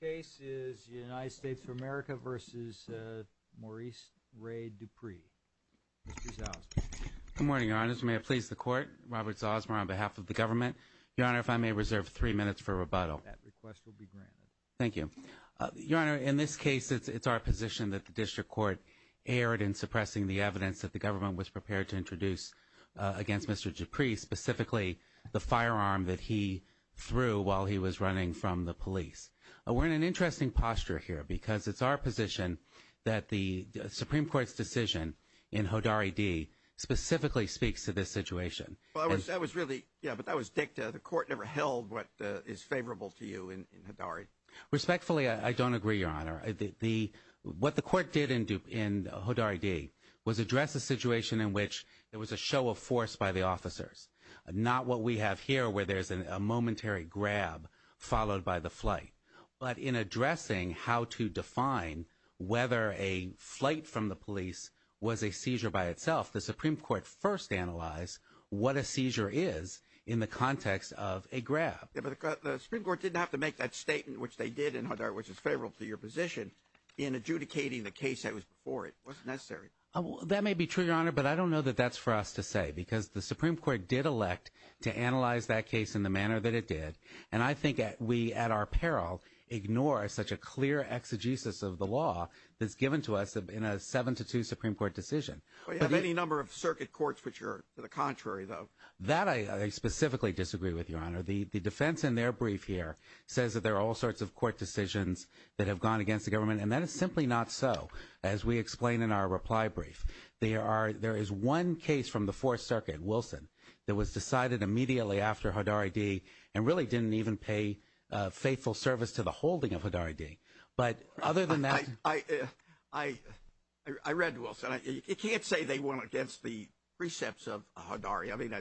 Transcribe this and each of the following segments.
The next case is the United States of America v. Maurice Ray Dupree, Mr. Zosmar. Good morning, Your Honor. Mr. Mayor, please the Court. Robert Zosmar on behalf of the government. Your Honor, if I may reserve three minutes for rebuttal. That request will be granted. Thank you. Your Honor, in this case, it's our position that the district court erred in suppressing the evidence that the government was prepared to introduce against Mr. Dupree, specifically the firearm that he threw while he was running from the police. We're in an interesting posture here because it's our position that the Supreme Court's position in Hodari D. specifically speaks to this situation. That was really, yeah, but that was dicta. The Court never held what is favorable to you in Hodari. Respectfully, I don't agree, Your Honor. What the Court did in Hodari D. was address a situation in which there was a show of force by the officers, not what we have here where there's a momentary grab followed by the flight. But in addressing how to define whether a flight from the police was a seizure by itself, the Supreme Court first analyzed what a seizure is in the context of a grab. Yeah, but the Supreme Court didn't have to make that statement, which they did in Hodari, which is favorable to your position, in adjudicating the case that was before it. It wasn't necessary. That may be true, Your Honor, but I don't know that that's for us to say because the Supreme Court did elect to analyze that case in the manner that it did. And I think we, at our peril, ignore such a clear exegesis of the law that's given to us in a 7-2 Supreme Court decision. We have any number of circuit courts which are the contrary, though. That I specifically disagree with, Your Honor. The defense in their brief here says that there are all sorts of court decisions that have gone against the government, and that is simply not so, as we explain in our reply brief. There is one case from the Fourth Circuit, Wilson, that was decided immediately after Hodari D., and really didn't even pay faithful service to the holding of Hodari D. But other than that – I read Wilson. You can't say they went against the precepts of Hodari. I mean,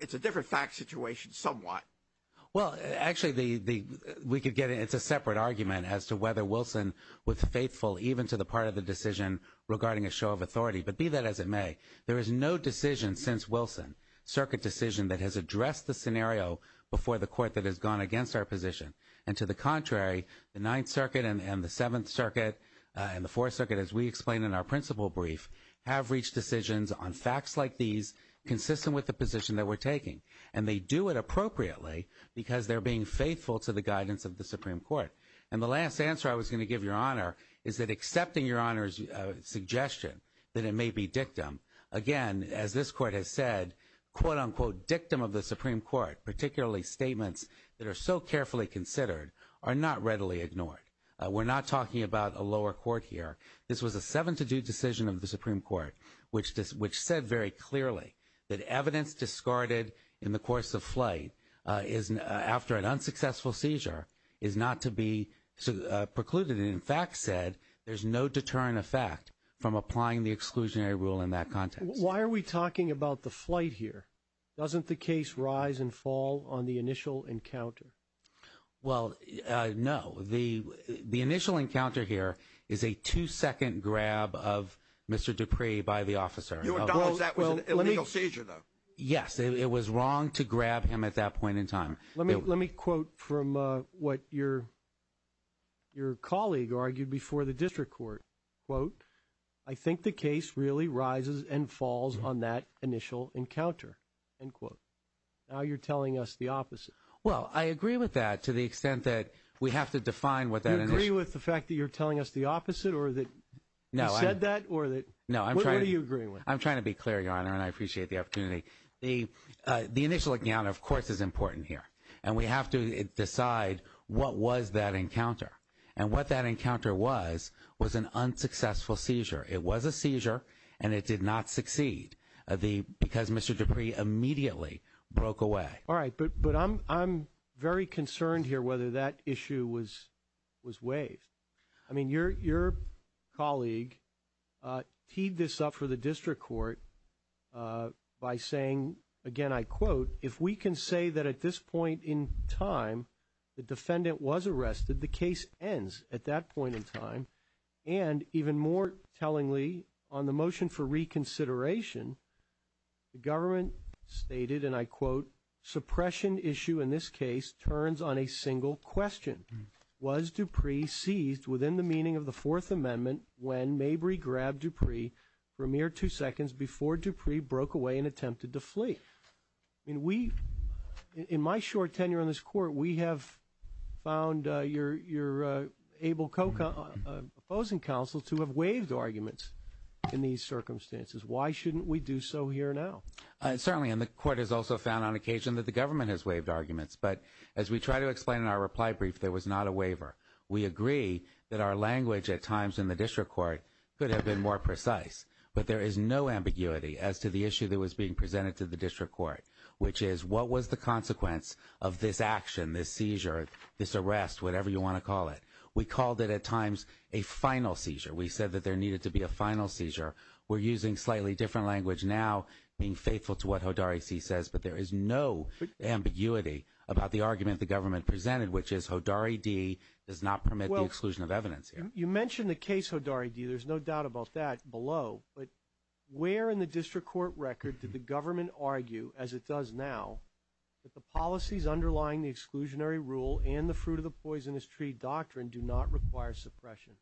it's a different fact situation somewhat. Well, actually, we could get – it's a separate argument as to whether Wilson was faithful even to the part of the decision regarding a show of authority. But be that as it may, there is no decision since Wilson, circuit decision, that has addressed the scenario before the court that has gone against our position. And to the contrary, the Ninth Circuit and the Seventh Circuit and the Fourth Circuit, as we explain in our principle brief, have reached decisions on facts like these consistent with the position that we're taking. And they do it appropriately because they're being faithful to the guidance of the Supreme Court. And the last answer I was going to give, Your Honor, is that accepting Your Honor's suggestion that it may be dictum, again, as this Court has said, quote, unquote, dictum of the Supreme Court, particularly statements that are so carefully considered, are not readily ignored. We're not talking about a lower court here. This was a seven-to-do decision of the Supreme Court, which said very clearly that evidence discarded in the course of flight after an unsuccessful seizure is not to be precluded. It in fact said there's no deterrent effect from applying the exclusionary rule in that context. Why are we talking about the flight here? Doesn't the case rise and fall on the initial encounter? Well, no. The initial encounter here is a two-second grab of Mr. Dupree by the officer. Your Honor, that was an illegal seizure, though. It was wrong to grab him at that point in time. Let me quote from what your colleague argued before the district court, quote, I think the case really rises and falls on that initial encounter, end quote. Now you're telling us the opposite. Well, I agree with that to the extent that we have to define what that initial encounter is. Do you agree with the fact that you're telling us the opposite or that he said that? No, I'm trying to be clear, Your Honor, and I appreciate the opportunity. The initial encounter, of course, is important here, and we have to decide what was that encounter. And what that encounter was was an unsuccessful seizure. It was a seizure, and it did not succeed because Mr. Dupree immediately broke away. All right, but I'm very concerned here whether that issue was waived. I mean, your colleague teed this up for the district court by saying, again, I quote, if we can say that at this point in time the defendant was arrested, the case ends at that point in time. And even more tellingly, on the motion for reconsideration, the government stated, and I quote, suppression issue in this case turns on a single question. Was Dupree seized within the meaning of the Fourth Amendment when Mabry grabbed Dupree for a mere two seconds before Dupree broke away and attempted to flee? I mean, we, in my short tenure on this Court, we have found you're able, opposing counsel, to have waived arguments in these circumstances. Why shouldn't we do so here now? Certainly, and the Court has also found on occasion that the government has waived arguments. But as we try to explain in our reply brief, there was not a waiver. We agree that our language at times in the district court could have been more precise. But there is no ambiguity as to the issue that was being presented to the district court, which is what was the consequence of this action, this seizure, this arrest, whatever you want to call it. We called it at times a final seizure. We said that there needed to be a final seizure. We're using slightly different language now, being faithful to what Hodari C. says. But there is no ambiguity about the argument the government presented, which is Hodari D. does not permit the exclusion of evidence here. You mentioned the case, Hodari D. There's no doubt about that below. But where in the district court record did the government argue, as it does now, that the policies underlying the exclusionary rule and the fruit of the poisonous tree doctrine do not require suppression?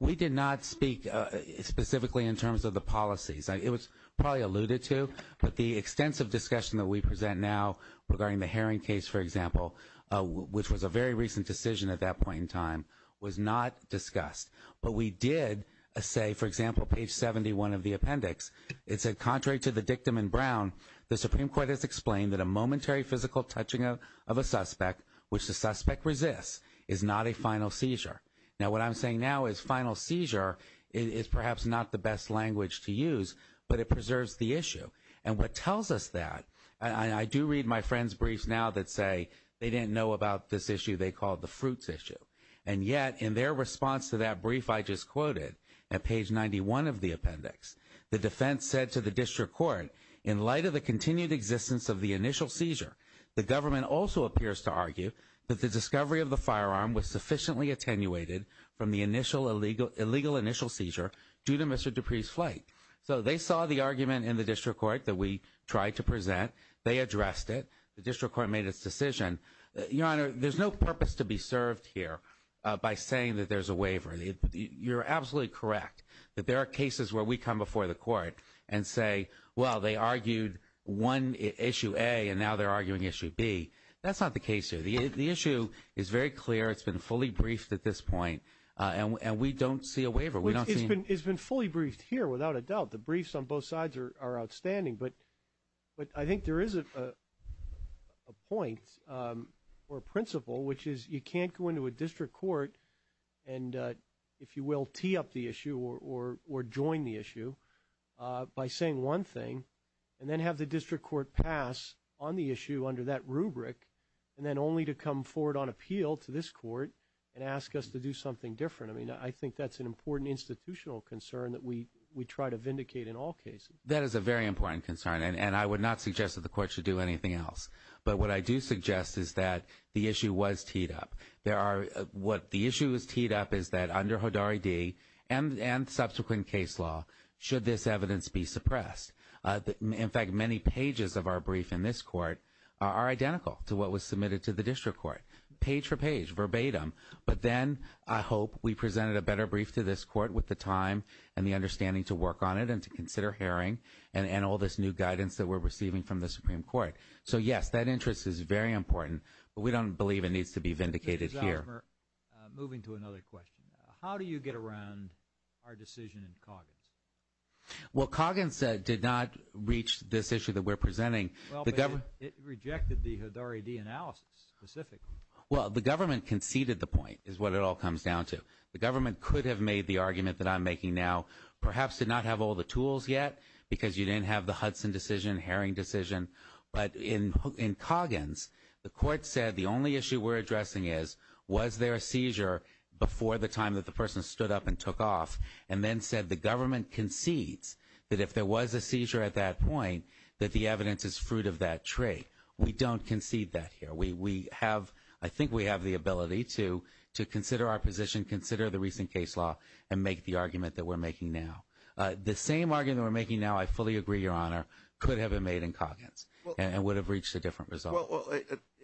We did not speak specifically in terms of the policies. It was probably alluded to, but the extensive discussion that we present now regarding the Herring case, for example, which was a very recent decision at that point in time, was not discussed. But we did say, for example, page 71 of the appendix, it said, contrary to the dictum in Brown, the Supreme Court has explained that a momentary physical touching of a suspect which the suspect resists is not a final seizure. Now, what I'm saying now is final seizure is perhaps not the best language to use, but it preserves the issue. And what tells us that, and I do read my friends' briefs now that say they didn't know about this issue they call the fruits issue. And yet, in their response to that brief I just quoted at page 91 of the appendix, the defense said to the district court, in light of the continued existence of the initial seizure, the government also appears to argue that the discovery of the firearm was sufficiently attenuated from the illegal initial seizure due to Mr. Dupree's flight. So they saw the argument in the district court that we tried to present. They addressed it. The district court made its decision. Your Honor, there's no purpose to be served here by saying that there's a waiver. You're absolutely correct that there are cases where we come before the court and say, well, they argued one issue A and now they're arguing issue B. That's not the case here. The issue is very clear. It's been fully briefed at this point. And we don't see a waiver. It's been fully briefed here without a doubt. The briefs on both sides are outstanding. But I think there is a point or principle, which is you can't go into a district court and, if you will, tee up the issue or join the issue, by saying one thing and then have the district court pass on the issue under that rubric, and then only to come forward on appeal to this court and ask us to do something different. I mean, I think that's an important institutional concern that we try to vindicate in all cases. That is a very important concern, and I would not suggest that the court should do anything else. But what I do suggest is that the issue was teed up. The issue was teed up is that under Hodari D. and subsequent case law, should this evidence be suppressed? In fact, many pages of our brief in this court are identical to what was submitted to the district court, page for page, verbatim. But then I hope we presented a better brief to this court with the time and the understanding to work on it and to consider hearing and all this new guidance that we're receiving from the Supreme Court. So, yes, that interest is very important, but we don't believe it needs to be vindicated here. Mr. Zalzmer, moving to another question, how do you get around our decision in Coggins? Well, Coggins did not reach this issue that we're presenting. Well, but it rejected the Hodari D. analysis specifically. Well, the government conceded the point is what it all comes down to. The government could have made the argument that I'm making now, perhaps did not have all the tools yet because you didn't have the Hudson decision, Herring decision. But in Coggins, the court said the only issue we're addressing is was there a seizure before the time that the person stood up and took off and then said the government concedes that if there was a seizure at that point, that the evidence is fruit of that trait. We don't concede that here. We have, I think we have the ability to consider our position, consider the recent case law, and make the argument that we're making now. The same argument we're making now, I fully agree, Your Honor, could have been made in Coggins and would have reached a different result. Well,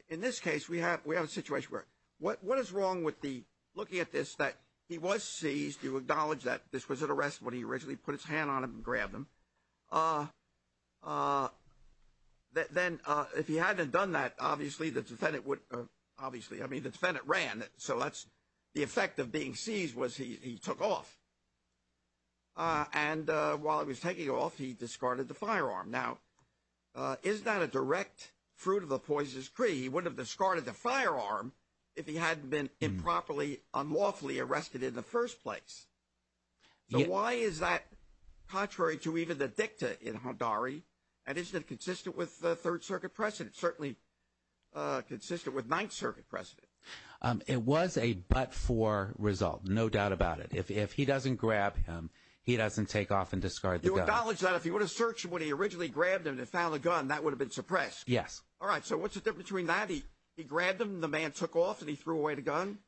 in this case, we have we have a situation where what what is wrong with the looking at this, that he was seized. You acknowledge that this was an arrest when he originally put his hand on him and grabbed him. Then if he hadn't done that, obviously, the defendant would obviously I mean, the defendant ran. So that's the effect of being seized was he took off. And while he was taking off, he discarded the firearm. Now, is that a direct fruit of a poisonous tree? He would have discarded the firearm if he hadn't been improperly, unlawfully arrested in the first place. So why is that contrary to even the dicta in Hadari? And is that consistent with the Third Circuit precedent? Certainly consistent with Ninth Circuit precedent. It was a but for result. No doubt about it. If if he doesn't grab him, he doesn't take off and discard the knowledge that if he were to search when he originally grabbed him and found a gun that would have been suppressed. Yes. All right. So what's the difference between that? He grabbed him. The man took off and he threw away the gun.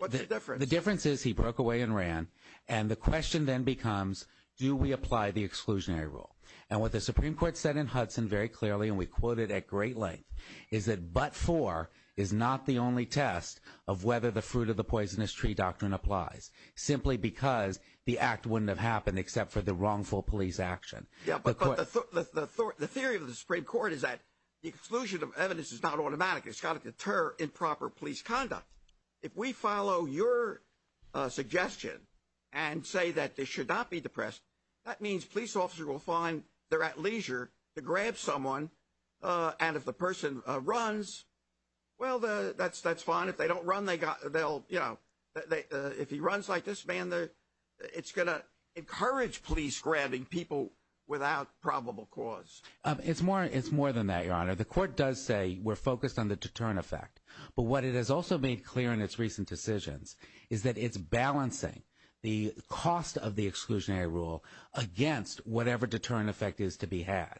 But the difference, the difference is he broke away and ran. And the question then becomes, do we apply the exclusionary rule? And what the Supreme Court said in Hudson very clearly, and we quoted at great length, is that but for is not the only test of whether the fruit of the poisonous tree doctrine applies simply because the act wouldn't have happened except for the wrongful police action. Yeah, but the theory of the Supreme Court is that the exclusion of evidence is not automatic. It's got to deter improper police conduct. If we follow your suggestion and say that they should not be depressed, that means police officers will find they're at leisure to grab someone. And if the person runs. Well, that's that's fine. If they don't run, they got they'll you know, if he runs like this man, it's going to encourage police grabbing people without probable cause. It's more it's more than that. Your Honor, the court does say we're focused on the deterrent effect. But what it has also made clear in its recent decisions is that it's balancing the cost of the exclusionary rule against whatever deterrent effect is to be had.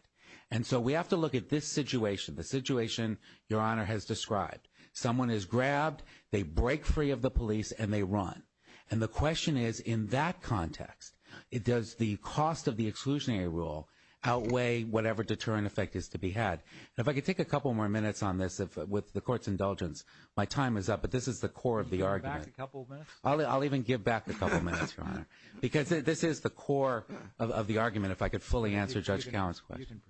And so we have to look at this situation, the situation your honor has described. Someone is grabbed. They break free of the police and they run. And the question is, in that context, it does the cost of the exclusionary rule outweigh whatever deterrent effect is to be had. And if I could take a couple more minutes on this with the court's indulgence, my time is up. But this is the core of the argument. A couple of minutes. I'll even give back a couple of minutes. Because this is the core of the argument. If I could fully answer Judge Cowen's question.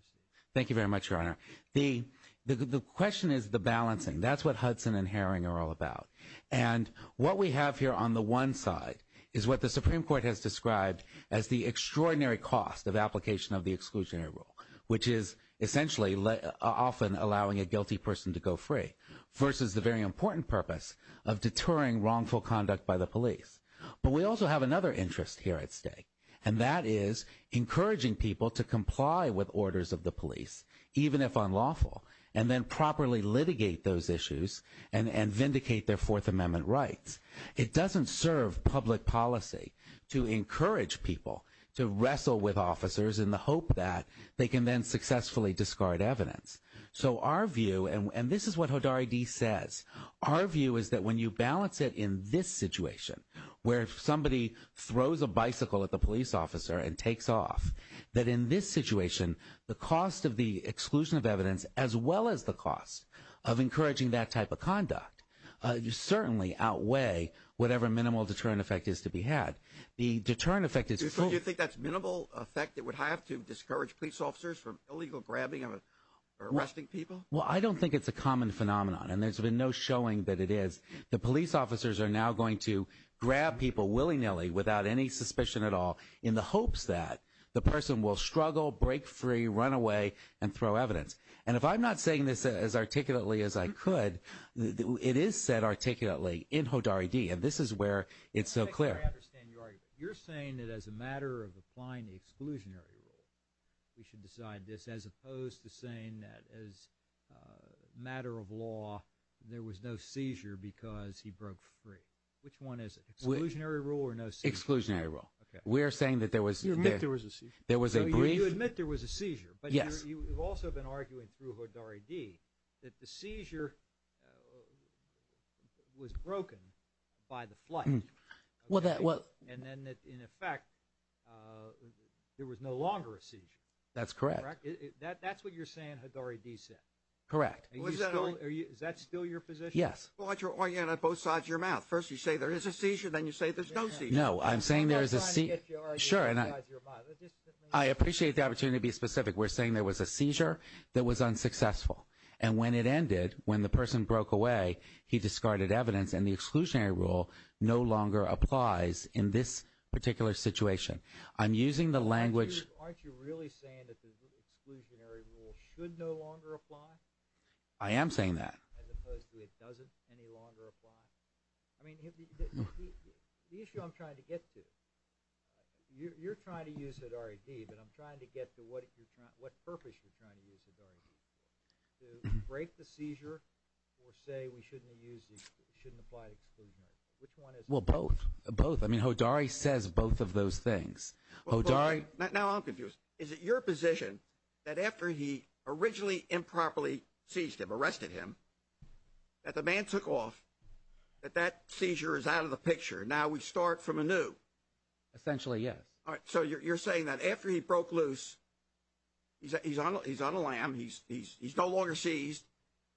Thank you very much, Your Honor. The the question is the balancing. That's what Hudson and Herring are all about. And what we have here on the one side is what the Supreme Court has described as the extraordinary cost of application of the exclusionary rule, which is essentially often allowing a guilty person to go free versus the very important purpose of deterring wrongful conduct by the police. But we also have another interest here at stake, and that is encouraging people to comply with orders of the police, even if unlawful, and then properly litigate those issues and vindicate their Fourth Amendment rights. It doesn't serve public policy to encourage people to wrestle with officers in the hope that they can then successfully discard evidence. So our view, and this is what Hodari D. says, our view is that when you balance it in this situation, where somebody throws a bicycle at the police officer and takes off, that in this situation, the cost of the exclusion of evidence, as well as the cost of encouraging that type of conduct, you certainly outweigh whatever minimal deterrent effect is to be had. The deterrent effect is. Do you think that's minimal effect that would have to discourage police officers from illegal grabbing or arresting people? Well, I don't think it's a common phenomenon, and there's been no showing that it is. The police officers are now going to grab people willy-nilly, without any suspicion at all, in the hopes that the person will struggle, break free, run away, and throw evidence. And if I'm not saying this as articulately as I could, it is said articulately in Hodari D., and this is where it's so clear. I think I understand your argument. You're saying that as a matter of applying the exclusionary rule, we should decide this, as opposed to saying that as a matter of law, there was no seizure because he broke free. Which one is it, exclusionary rule or no seizure? Exclusionary rule. We're saying that there was a brief – You admit there was a seizure. There was a brief – So you admit there was a seizure. Yes. But you've also been arguing through Hodari D. that the seizure was broken by the flight. And then that, in effect, there was no longer a seizure. That's correct. That's what you're saying, Hodari D. said. Correct. Is that still your position? Yes. But you're arguing on both sides of your mouth. First you say there is a seizure, then you say there's no seizure. No, I'm saying there is a – I'm not trying to get your argument out of your mouth. I appreciate the opportunity to be specific. We're saying there was a seizure that was unsuccessful. And when it ended, when the person broke away, he discarded evidence, and the exclusionary rule no longer applies in this particular situation. I'm using the language – So aren't you really saying that the exclusionary rule should no longer apply? I am saying that. As opposed to it doesn't any longer apply? I mean, the issue I'm trying to get to, you're trying to use Hodari D., but I'm trying to get to what purpose you're trying to use Hodari D. To break the seizure or say we shouldn't apply the exclusionary rule. Which one is it? Well, both. Both. I mean, Hodari says both of those things. Hodari – Now I'm confused. Is it your position that after he originally improperly seized him, arrested him, that the man took off, that that seizure is out of the picture, now we start from anew? Essentially, yes. All right. So you're saying that after he broke loose, he's on a lamb, he's no longer seized,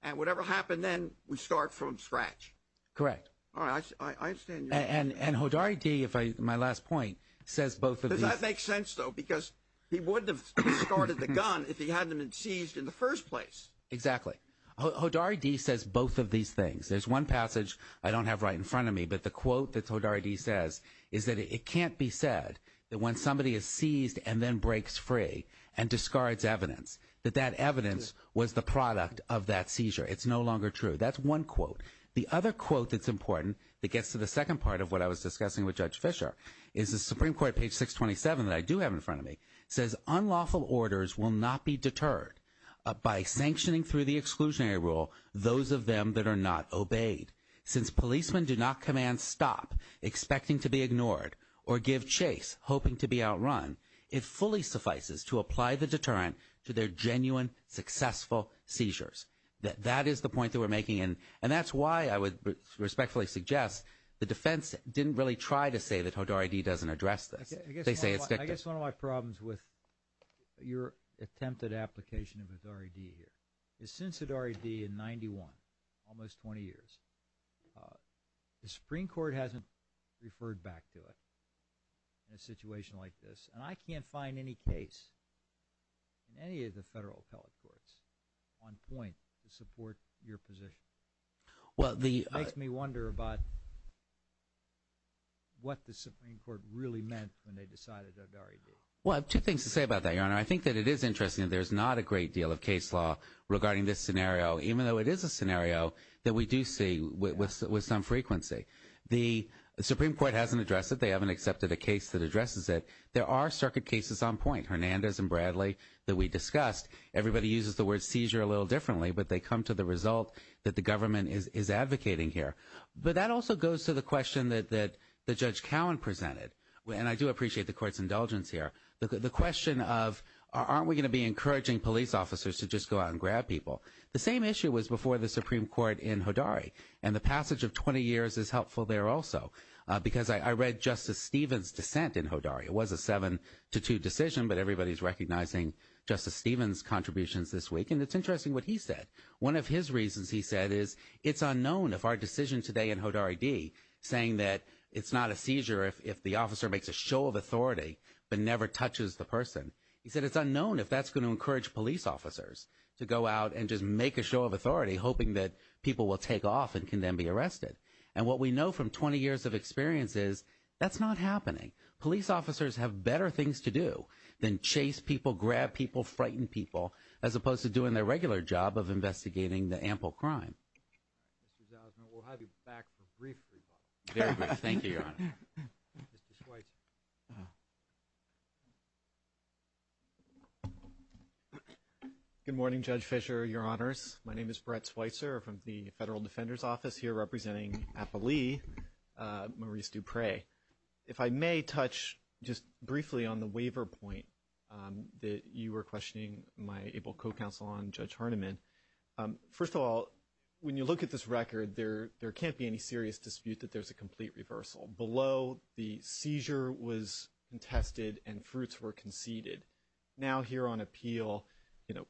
and whatever happened then, we start from scratch? Correct. All right. I understand your – And Hodari D., my last point, says both of these – Does that make sense, though? Because he wouldn't have discarded the gun if he hadn't been seized in the first place. Exactly. Hodari D. says both of these things. There's one passage I don't have right in front of me, but the quote that Hodari D. says is that it can't be said that when somebody is seized and then breaks free and discards evidence, that that evidence was the product of that seizure. It's no longer true. That's one quote. The other quote that's important that gets to the second part of what I was discussing with Judge Fischer is the Supreme Court, page 627, that I do have in front of me, says unlawful orders will not be deterred by sanctioning through the exclusionary rule those of them that are not obeyed. Since policemen do not command stop, expecting to be ignored, or give chase, hoping to be outrun, it fully suffices to apply the deterrent to their genuine, successful seizures. That is the point that we're making, and that's why I would respectfully suggest the defense didn't really try to say that Hodari D. doesn't address this. I guess one of my problems with your attempted application of Hodari D. here is since Hodari D. in 91, almost 20 years, the Supreme Court hasn't referred back to it in a situation like this, and I can't find any case in any of the federal appellate courts on point to support your position. It makes me wonder about what the Supreme Court really meant when they decided Hodari D. Well, I have two things to say about that, Your Honor. I think that it is interesting that there's not a great deal of case law regarding this scenario, even though it is a scenario that we do see with some frequency. The Supreme Court hasn't addressed it. They haven't accepted a case that addresses it. There are circuit cases on point, Hernandez and Bradley that we discussed. Everybody uses the word seizure a little differently, but they come to the result that the government is advocating here. But that also goes to the question that Judge Cowen presented, and I do appreciate the Court's indulgence here, the question of aren't we going to be encouraging police officers to just go out and grab people. The same issue was before the Supreme Court in Hodari, and the passage of 20 years is helpful there also because I read Justice Stevens' dissent in Hodari. It was a 7-2 decision, but everybody's recognizing Justice Stevens' contributions this week, and it's interesting what he said. One of his reasons, he said, is it's unknown if our decision today in Hodari D, saying that it's not a seizure if the officer makes a show of authority but never touches the person, he said it's unknown if that's going to encourage police officers to go out and just make a show of authority, hoping that people will take off and can then be arrested. And what we know from 20 years of experience is that's not happening. Police officers have better things to do than chase people, grab people, frighten people, as opposed to doing their regular job of investigating the ample crime. All right. Mr. Zausman, we'll have you back for a brief rebuttal. Very brief. Thank you, Your Honor. Mr. Schweitzer. Good morning, Judge Fischer, Your Honors. My name is Brett Schweitzer. I'm from the Federal Defender's Office here representing Appalee, Maurice Dupre. If I may touch just briefly on the waiver point that you were questioning my able co-counsel on, Judge Harneman. First of all, when you look at this record, there can't be any serious dispute that there's a complete reversal. Below, the seizure was contested and fruits were conceded. Now here on appeal, you know,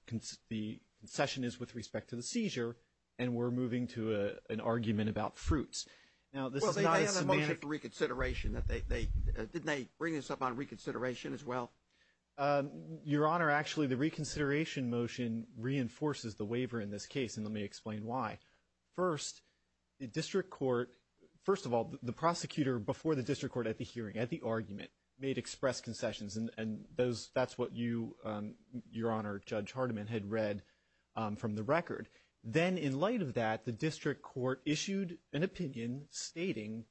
the concession is with respect to the seizure, and we're moving to an argument about fruits. Well, they had a motion for reconsideration. Didn't they bring this up on reconsideration as well? Your Honor, actually, the reconsideration motion reinforces the waiver in this case, and let me explain why. First, the district court, first of all, the prosecutor before the district court at the hearing, at the argument, made express concessions, and that's what you, Your Honor, Judge Harneman, had read from the record. Then in light of that, the district court issued an opinion stating,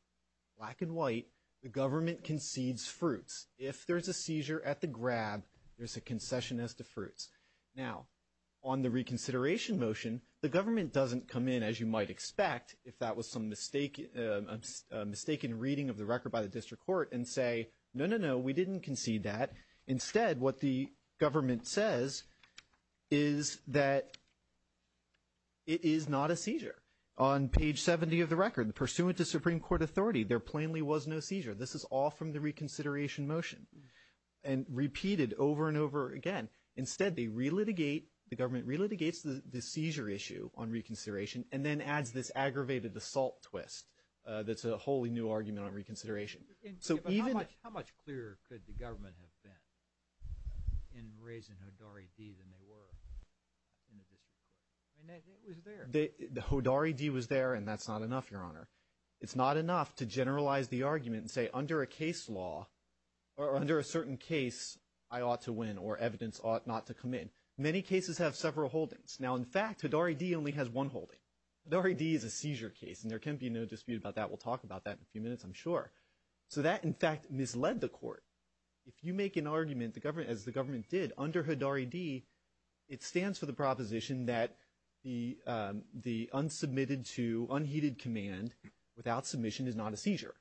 black and white, the government concedes fruits. If there's a seizure at the grab, there's a concession as to fruits. Now, on the reconsideration motion, the government doesn't come in, as you might expect, if that was some mistaken reading of the record by the district court, and say, no, no, no, we didn't concede that. Instead, what the government says is that it is not a seizure. On page 70 of the record, pursuant to Supreme Court authority, there plainly was no seizure. This is all from the reconsideration motion, and repeated over and over again. Instead, they relitigate, the government relitigates the seizure issue on reconsideration, and then adds this aggravated assault twist that's a wholly new argument on reconsideration. How much clearer could the government have been in raising Hodari D than they were in the district court? It was there. Hodari D was there, and that's not enough, Your Honor. It's not enough to generalize the argument and say, under a case law, or under a certain case, I ought to win, or evidence ought not to come in. Many cases have several holdings. Now, in fact, Hodari D only has one holding. Hodari D is a seizure case, and there can be no dispute about that. We'll talk about that in a few minutes, I'm sure. So that, in fact, misled the court. If you make an argument, as the government did, under Hodari D, it stands for the proposition that the unsubmitted to unheeded command without submission is not a seizure.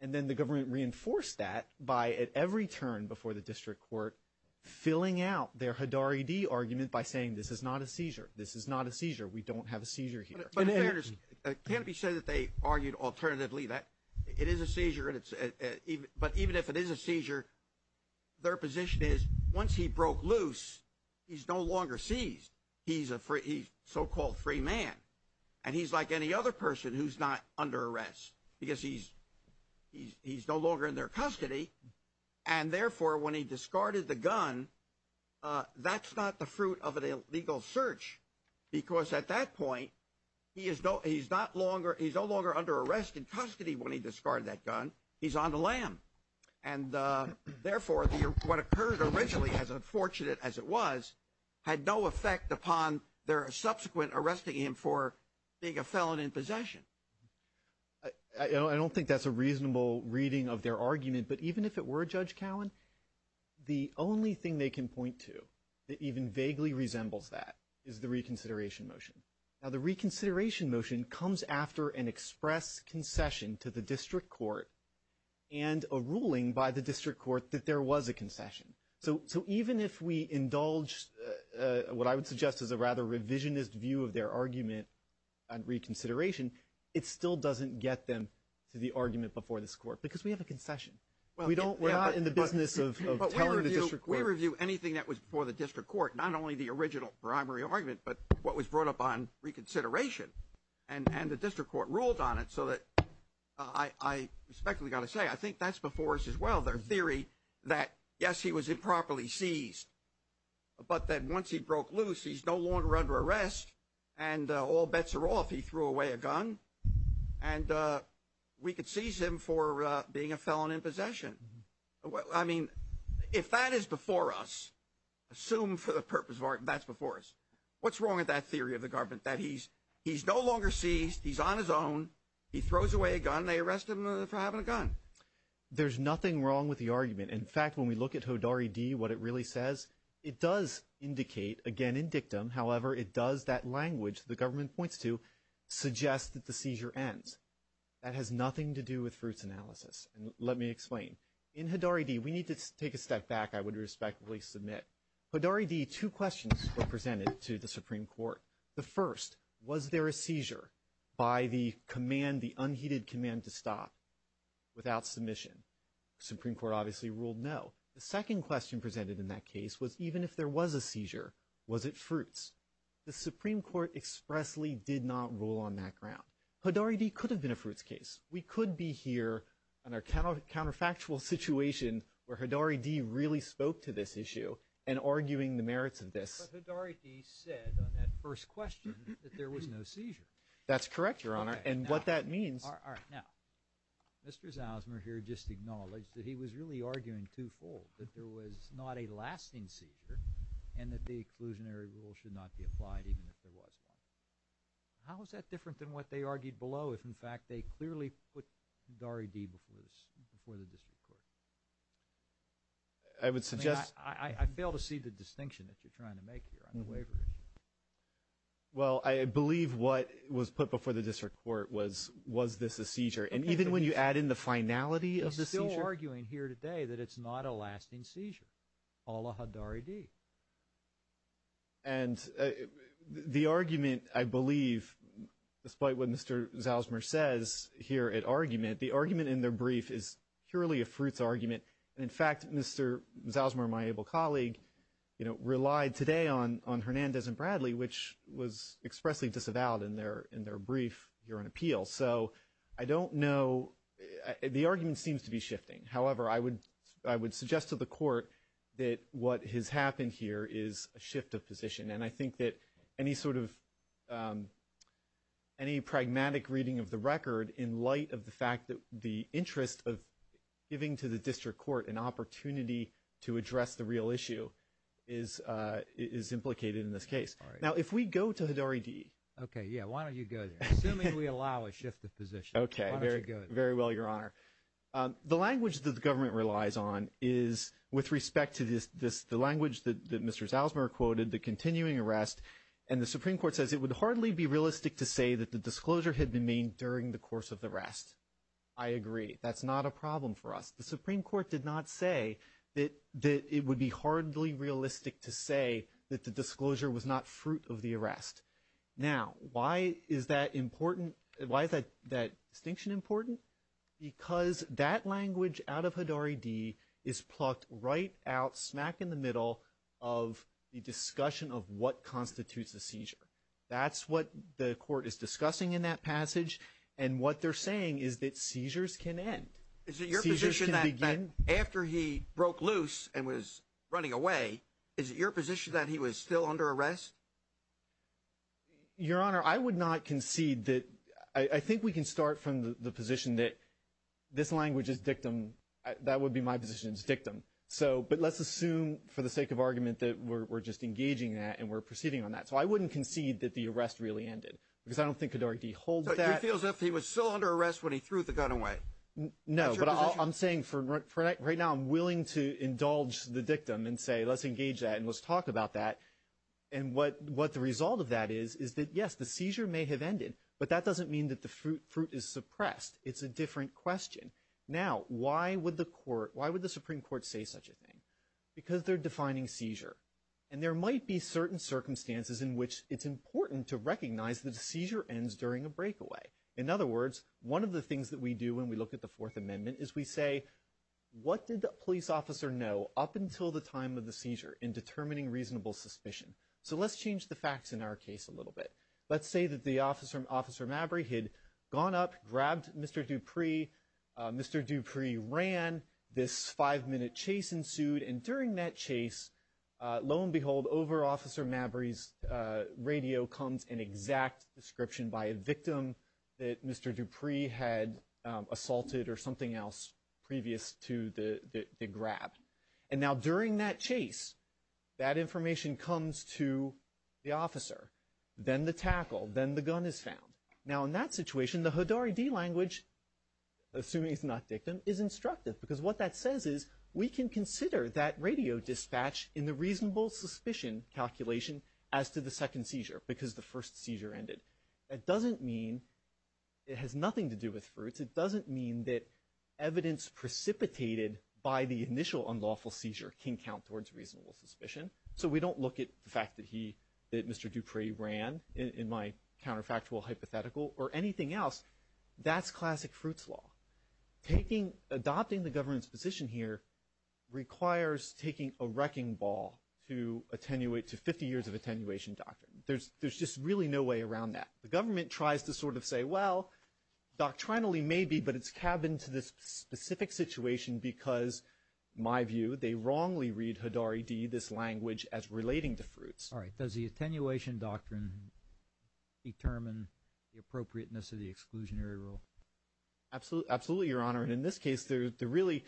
And then the government reinforced that by, at every turn before the district court, filling out their Hodari D argument by saying this is not a seizure. This is not a seizure. We don't have a seizure here. It can't be said that they argued alternatively that it is a seizure, but even if it is a seizure, their position is once he broke loose, he's no longer seized. He's a so-called free man, and he's like any other person who's not under arrest because he's no longer in their custody. And therefore, when he discarded the gun, that's not the fruit of an illegal search because at that point he's no longer under arrest in custody when he discarded that gun. He's on the lam. And therefore, what occurred originally, as unfortunate as it was, had no effect upon their subsequent arresting him for being a felon in possession. I don't think that's a reasonable reading of their argument, but even if it were, Judge Cowen, the only thing they can point to that even vaguely resembles that is the reconsideration motion. Now, the reconsideration motion comes after an express concession to the district court and a ruling by the district court that there was a concession. So even if we indulge what I would suggest is a rather revisionist view of their argument on reconsideration, it still doesn't get them to the argument before this court because we have a concession. Well, we don't. We're not in the business of telling the district court. We review anything that was before the district court, not only the original primary argument, but what was brought up on reconsideration. And the district court ruled on it so that I respectfully got to say I think that's before us as well, their theory that, yes, he was improperly seized, but that once he broke loose, he's no longer under arrest and all bets are off. He threw away a gun, and we could seize him for being a felon in possession. I mean, if that is before us, assume for the purpose of argument that's before us, what's wrong with that theory of the government that he's no longer seized, he's on his own, he throws away a gun, they arrest him for having a gun? There's nothing wrong with the argument. In fact, when we look at Hodari D., what it really says, it does indicate, again, in dictum, however, it does that language the government points to suggest that the seizure ends. That has nothing to do with fruits analysis. And let me explain. In Hodari D., we need to take a step back, I would respectfully submit. Hodari D., two questions were presented to the Supreme Court. The first, was there a seizure by the command, the unheeded command to stop without submission? The Supreme Court obviously ruled no. The second question presented in that case was even if there was a seizure, was it fruits? The Supreme Court expressly did not rule on that ground. Hodari D. could have been a fruits case. We could be here on a counterfactual situation where Hodari D. really spoke to this issue and arguing the merits of this. But Hodari D. said on that first question that there was no seizure. That's correct, Your Honor, and what that means. All right. Now, Mr. Zausmer here just acknowledged that he was really arguing twofold, that there was not a lasting seizure and that the exclusionary rule should not be applied even if there was one. How is that different than what they argued below if, in fact, they clearly put Hodari D. before the district court? I would suggest – I fail to see the distinction that you're trying to make here on the waiver issue. Well, I believe what was put before the district court was, was this a seizure? And even when you add in the finality of the seizure? He's still arguing here today that it's not a lasting seizure, a la Hodari D. And the argument, I believe, despite what Mr. Zausmer says here at argument, the argument in their brief is purely a fruits argument. And, in fact, Mr. Zausmer, my able colleague, relied today on Hernandez and Bradley, which was expressly disavowed in their brief here on appeal. So I don't know – the argument seems to be shifting. However, I would suggest to the court that what has happened here is a shift of position. And I think that any sort of – any pragmatic reading of the record in light of the fact that the interest of giving to the district court an opportunity to address the real issue is implicated in this case. Now, if we go to Hodari D. Okay, yeah. Why don't you go there? Assuming we allow a shift of position. Okay. Why don't you go there? Very well, Your Honor. The language that the government relies on is with respect to the language that Mr. Zausmer quoted, the continuing arrest, and the Supreme Court says it would hardly be realistic to say that the disclosure had been made during the course of the arrest. I agree. That's not a problem for us. The Supreme Court did not say that it would be hardly realistic to say that the disclosure was not fruit of the arrest. Now, why is that important? Why is that distinction important? Because that language out of Hodari D. is plucked right out smack in the middle of the discussion of what constitutes a seizure. That's what the court is discussing in that passage, and what they're saying is that seizures can end. Seizures can begin. Is it your position that after he broke loose and was running away, is it your position that he was still under arrest? Your Honor, I would not concede that. I think we can start from the position that this language is dictum. That would be my position. It's dictum. But let's assume for the sake of argument that we're just engaging that and we're proceeding on that. So I wouldn't concede that the arrest really ended because I don't think Hodari D. holds that. So he feels that he was still under arrest when he threw the gun away. No, but I'm saying for right now I'm willing to indulge the dictum and say let's engage that and let's talk about that. And what the result of that is is that, yes, the seizure may have ended, but that doesn't mean that the fruit is suppressed. It's a different question. Now, why would the Supreme Court say such a thing? Because they're defining seizure. And there might be certain circumstances in which it's important to recognize that a seizure ends during a breakaway. In other words, one of the things that we do when we look at the Fourth Amendment is we say, what did the police officer know up until the time of the seizure in determining reasonable suspicion? So let's change the facts in our case a little bit. Let's say that the officer, Officer Mabry, had gone up, grabbed Mr. Dupree. Mr. Dupree ran. This five-minute chase ensued. And during that chase, lo and behold, over Officer Mabry's radio comes an exact description by a victim that Mr. Dupree was not suspicious to the grab. And now during that chase, that information comes to the officer. Then the tackle. Then the gun is found. Now, in that situation, the HODORI D language, assuming it's not victim, is instructive. Because what that says is we can consider that radio dispatch in the reasonable suspicion calculation as to the second seizure, because the first seizure ended. That doesn't mean it has nothing to do with fruits. It doesn't mean that evidence precipitated by the initial unlawful seizure can count towards reasonable suspicion. So we don't look at the fact that Mr. Dupree ran, in my counterfactual hypothetical, or anything else. That's classic fruits law. Adopting the government's position here requires taking a wrecking ball to 50 years of attenuation doctrine. There's just really no way around that. The government tries to sort of say, well, doctrinally maybe, but it's cabined to this specific situation because, in my view, they wrongly read HODORI D, this language, as relating to fruits. All right. Does the attenuation doctrine determine the appropriateness of the exclusionary rule? Absolutely, Your Honor. And in this case, they're really ‑‑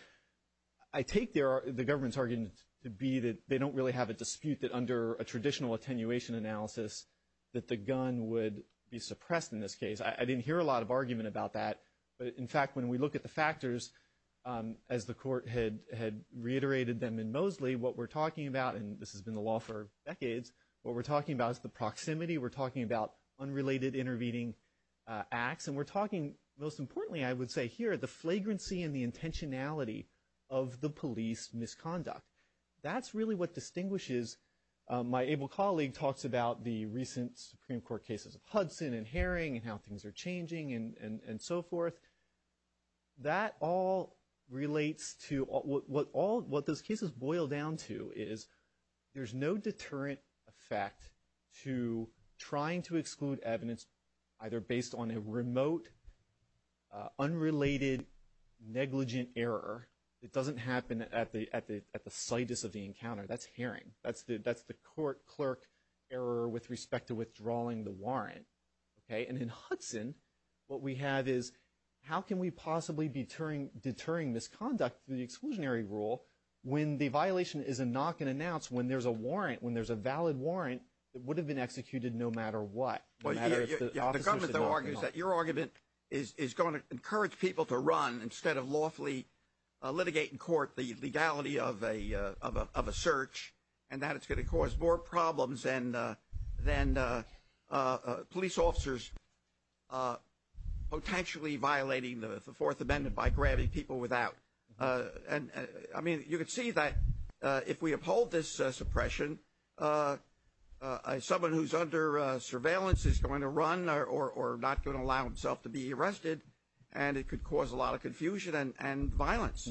I take the government's argument to be that they don't really have a dispute that under a traditional attenuation analysis that the gun would be suppressed in this case. I didn't hear a lot of argument about that. But, in fact, when we look at the factors, as the Court had reiterated them in Mosley, what we're talking about, and this has been the law for decades, what we're talking about is the proximity. We're talking about unrelated intervening acts. And we're talking, most importantly, I would say here, the flagrancy and the intentionality of the police misconduct. That's really what distinguishes. My able colleague talks about the recent Supreme Court cases of Hudson and Herring and how things are changing and so forth. That all relates to ‑‑ what those cases boil down to is there's no deterrent effect to trying to exclude evidence, either based on a remote, unrelated, negligent error. It doesn't happen at the situs of the encounter. That's Herring. That's the court‑clerk error with respect to withdrawing the warrant. And in Hudson, what we have is how can we possibly be deterring misconduct through the exclusionary rule when the violation is a knock and announce, when there's a warrant, when there's a valid warrant that would have been executed no matter what. The government argues that your argument is going to encourage people to run instead of lawfully litigate in court the legality of a search and that it's going to cause more problems than police officers potentially violating the Fourth Amendment by grabbing people without. I mean, you can see that if we uphold this suppression, someone who's under surveillance is going to run or not going to allow himself to be arrested and it could cause a lot of confusion and violence.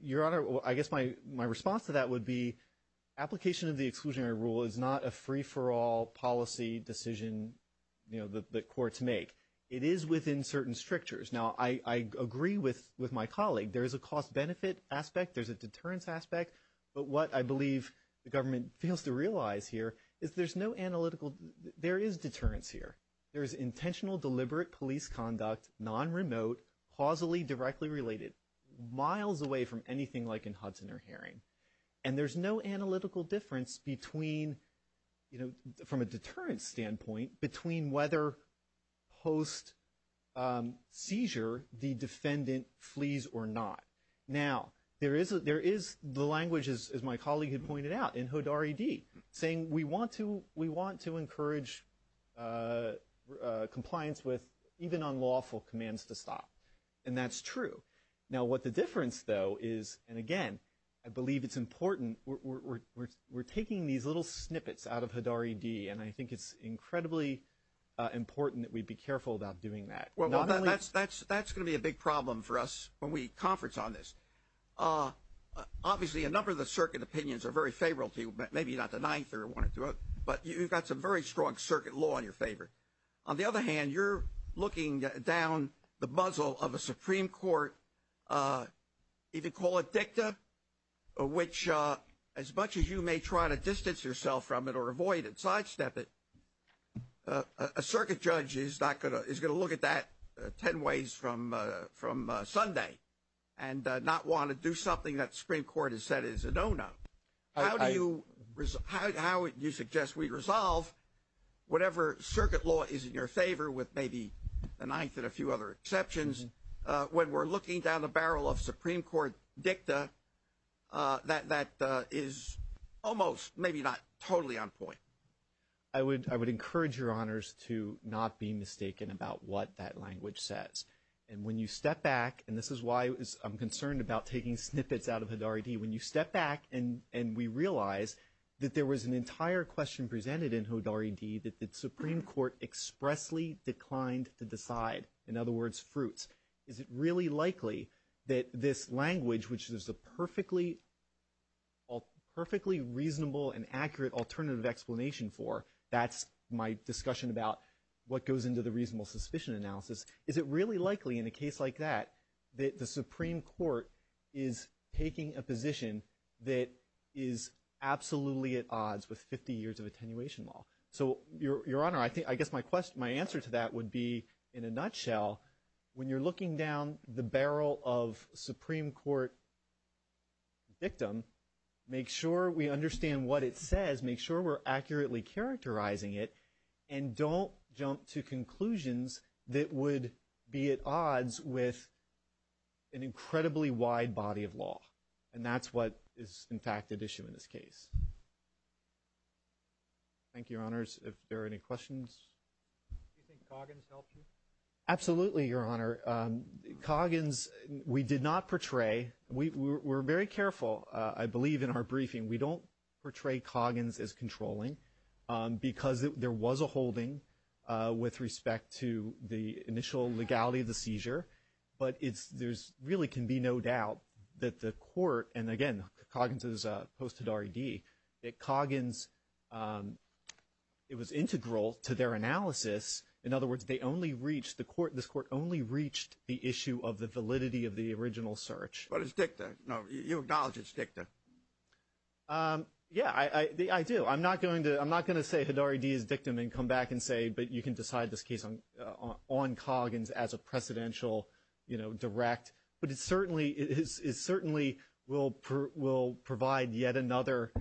Your Honor, I guess my response to that would be application of the exclusionary rule is not a free‑for‑all policy decision that courts make. It is within certain strictures. Now, I agree with my colleague. There is a cost‑benefit aspect. There's a deterrence aspect. But what I believe the government fails to realize here is there's no analytical ‑‑ there is deterrence here. There is intentional deliberate police conduct, non‑remote, causally directly related, miles away from anything like in Hudson or Herring. And there's no analytical difference between, you know, from a deterrence standpoint, between whether post‑seizure the defendant flees or not. Now, there is the language, as my colleague had pointed out, in Hodari D. saying we want to encourage compliance with even unlawful commands to stop. And that's true. Now, what the difference, though, is, and again, I believe it's important, we're taking these little snippets out of Hodari D. And I think it's incredibly important that we be careful about doing that. Well, that's going to be a big problem for us when we conference on this. Obviously, a number of the circuit opinions are very favorable to you, maybe not the ninth or one or two, but you've got some very strong circuit law in your favor. On the other hand, you're looking down the muzzle of a Supreme Court, if you call it dicta, which as much as you may try to distance yourself from it or avoid it, sidestep it, a circuit judge is going to look at that ten ways from Sunday and not want to do something that the Supreme Court has said is a no‑no. How do you suggest we resolve whatever circuit law is in your favor, with maybe a ninth and a few other exceptions, when we're looking down the barrel of Supreme Court dicta that is almost, maybe not totally on point? I would encourage your honors to not be mistaken about what that language says. And when you step back, and this is why I'm concerned about taking snippets out of Hodari D, when you step back and we realize that there was an entire question presented in Hodari D that the Supreme Court expressly declined to decide. In other words, fruits. Is it really likely that this language, which there's a perfectly reasonable and accurate alternative explanation for, that's my discussion about what goes into the reasonable suspicion analysis, is it really likely in a case like that that the Supreme Court is taking a position that is absolutely at odds with 50 years of attenuation law? So, your honor, I guess my answer to that would be, in a nutshell, when you're looking down the barrel of Supreme Court dictum, make sure we understand what it says, make sure we're accurately characterizing it, and don't jump to conclusions that would be at odds with an incredibly wide body of law. And that's what is, in fact, at issue in this case. Thank you, your honors. If there are any questions. Do you think Coggins helped you? Absolutely, your honor. Coggins, we did not portray. We were very careful, I believe, in our briefing. We don't portray Coggins as controlling, but there really can be no doubt that the court, and, again, Coggins is post-Hadarri-Dee, that Coggins, it was integral to their analysis. In other words, they only reached, this court only reached the issue of the validity of the original search. But it's dicta. You acknowledge it's dicta. Yeah, I do. I'm not going to say Hadarri-Dee is dictum and come back and say, but you can decide this case on Coggins as a precedential direct. But it certainly will provide yet another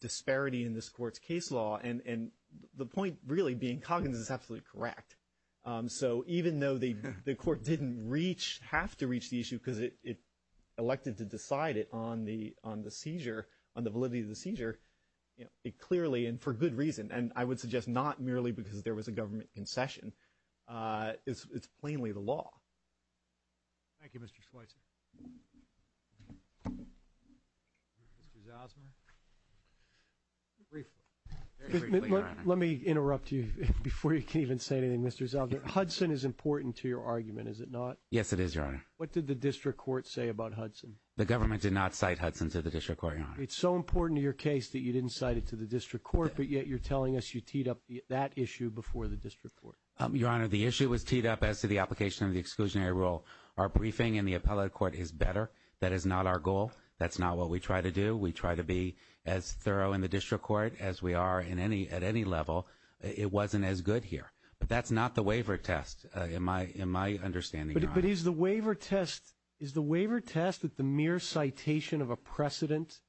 disparity in this court's case law. And the point, really, being Coggins is absolutely correct. So even though the court didn't have to reach the issue because it elected to decide it on the seizure, on the validity of the seizure, it clearly, and for good reason, and I would suggest not merely because there was a government concession, it's plainly the law. Thank you, Mr. Schweitzer. Mr. Zausmer. Let me interrupt you before you can even say anything, Mr. Zausmer. Hudson is important to your argument, is it not? Yes, it is, Your Honor. What did the district court say about Hudson? The government did not cite Hudson to the district court, Your Honor. It's so important to your case that you didn't cite it to the district court, but yet you're telling us you teed up that issue before the district court. Your Honor, the issue was teed up as to the application of the exclusionary rule. Our briefing in the appellate court is better. That is not our goal. That's not what we try to do. We try to be as thorough in the district court as we are at any level. It wasn't as good here. But that's not the waiver test, in my understanding, Your Honor. But is the waiver test that the mere citation of a precedent,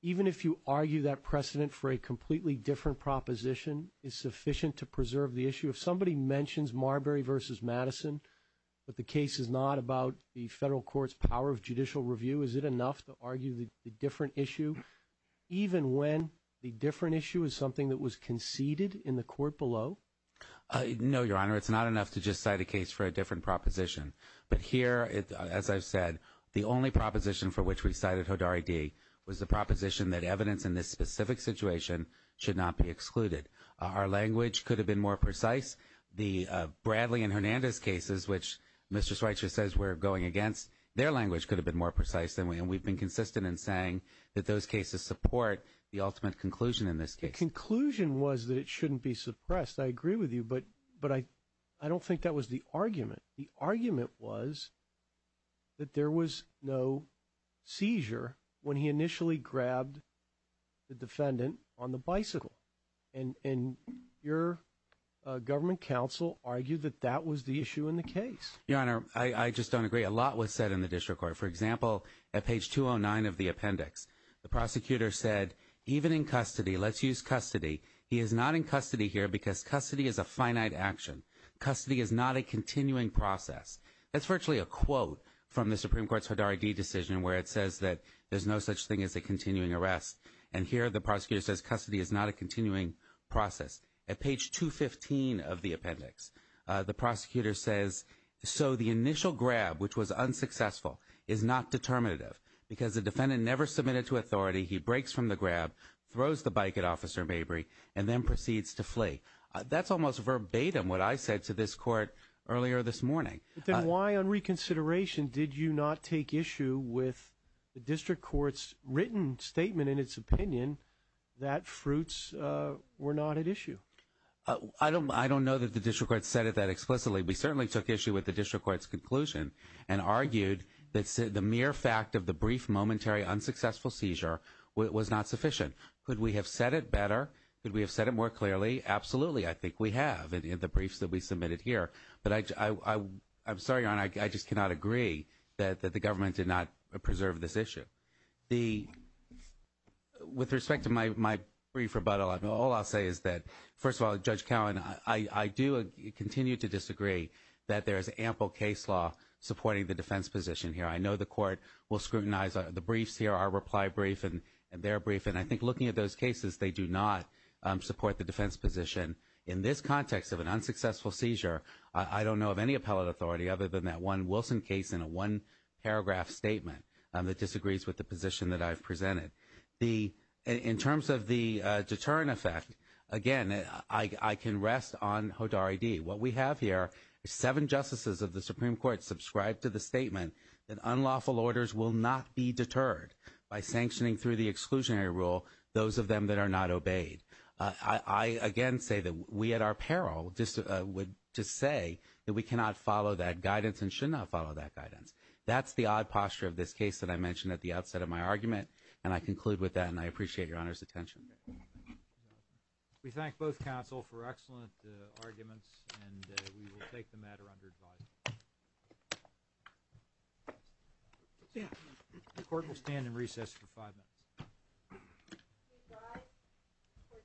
even if you argue that precedent for a completely different proposition, is sufficient to preserve the issue? If somebody mentions Marbury v. Madison, but the case is not about the federal court's power of judicial review, is it enough to argue the different issue, even when the different issue is something that was conceded in the court below? No, Your Honor. It's not enough to just cite a case for a different proposition. But here, as I've said, the only proposition for which we cited Hodari D. was the proposition that evidence in this specific situation should not be excluded. Our language could have been more precise. The Bradley and Hernandez cases, which Mr. Schweitzer says we're going against, their language could have been more precise. And we've been consistent in saying that those cases support the ultimate conclusion in this case. The conclusion was that it shouldn't be suppressed. I agree with you. But I don't think that was the argument. The argument was that there was no seizure when he initially grabbed the defendant on the bicycle. And your government counsel argued that that was the issue in the case. Your Honor, I just don't agree. A lot was said in the district court. For example, at page 209 of the appendix, the prosecutor said, even in custody, let's use custody, he is not in custody here because custody is a finite action. Custody is not a continuing process. That's virtually a quote from the Supreme Court's Hodari D. decision where it says that there's no such thing as a continuing arrest. And here the prosecutor says custody is not a continuing process. At page 215 of the appendix, the prosecutor says, so the initial grab, which was unsuccessful, is not determinative because the defendant never submitted to authority. He breaks from the grab, throws the bike at Officer Mabry, and then proceeds to flee. That's almost verbatim what I said to this court earlier this morning. Then why on reconsideration did you not take issue with the district court's written statement, in its opinion, that fruits were not at issue? I don't know that the district court said it that explicitly. We certainly took issue with the district court's conclusion and argued that the mere fact of the brief momentary unsuccessful seizure was not sufficient. Could we have said it better? Could we have said it more clearly? Absolutely, I think we have in the briefs that we submitted here. But I'm sorry, Your Honor, I just cannot agree that the government did not preserve this issue. With respect to my brief rebuttal, all I'll say is that, first of all, Judge Cowan, I do continue to disagree that there is ample case law supporting the defense position here. I know the court will scrutinize the briefs here, our reply brief and their brief, and I think looking at those cases, they do not support the defense position. In this context of an unsuccessful seizure, I don't know of any appellate authority other than that one Wilson case in a one-paragraph statement that disagrees with the position that I've presented. In terms of the deterrent effect, again, I can rest on HODAR ID. What we have here is seven justices of the Supreme Court subscribed to the statement that unlawful orders will not be deterred by sanctioning through the exclusionary rule those of them that are not obeyed. I, again, say that we at our peril would just say that we cannot follow that guidance and should not follow that guidance. That's the odd posture of this case that I mentioned at the outset of my argument, and I conclude with that, and I appreciate Your Honor's attention. We thank both counsel for excellent arguments, and we will take the matter under advisory. The court will stand in recess for five minutes.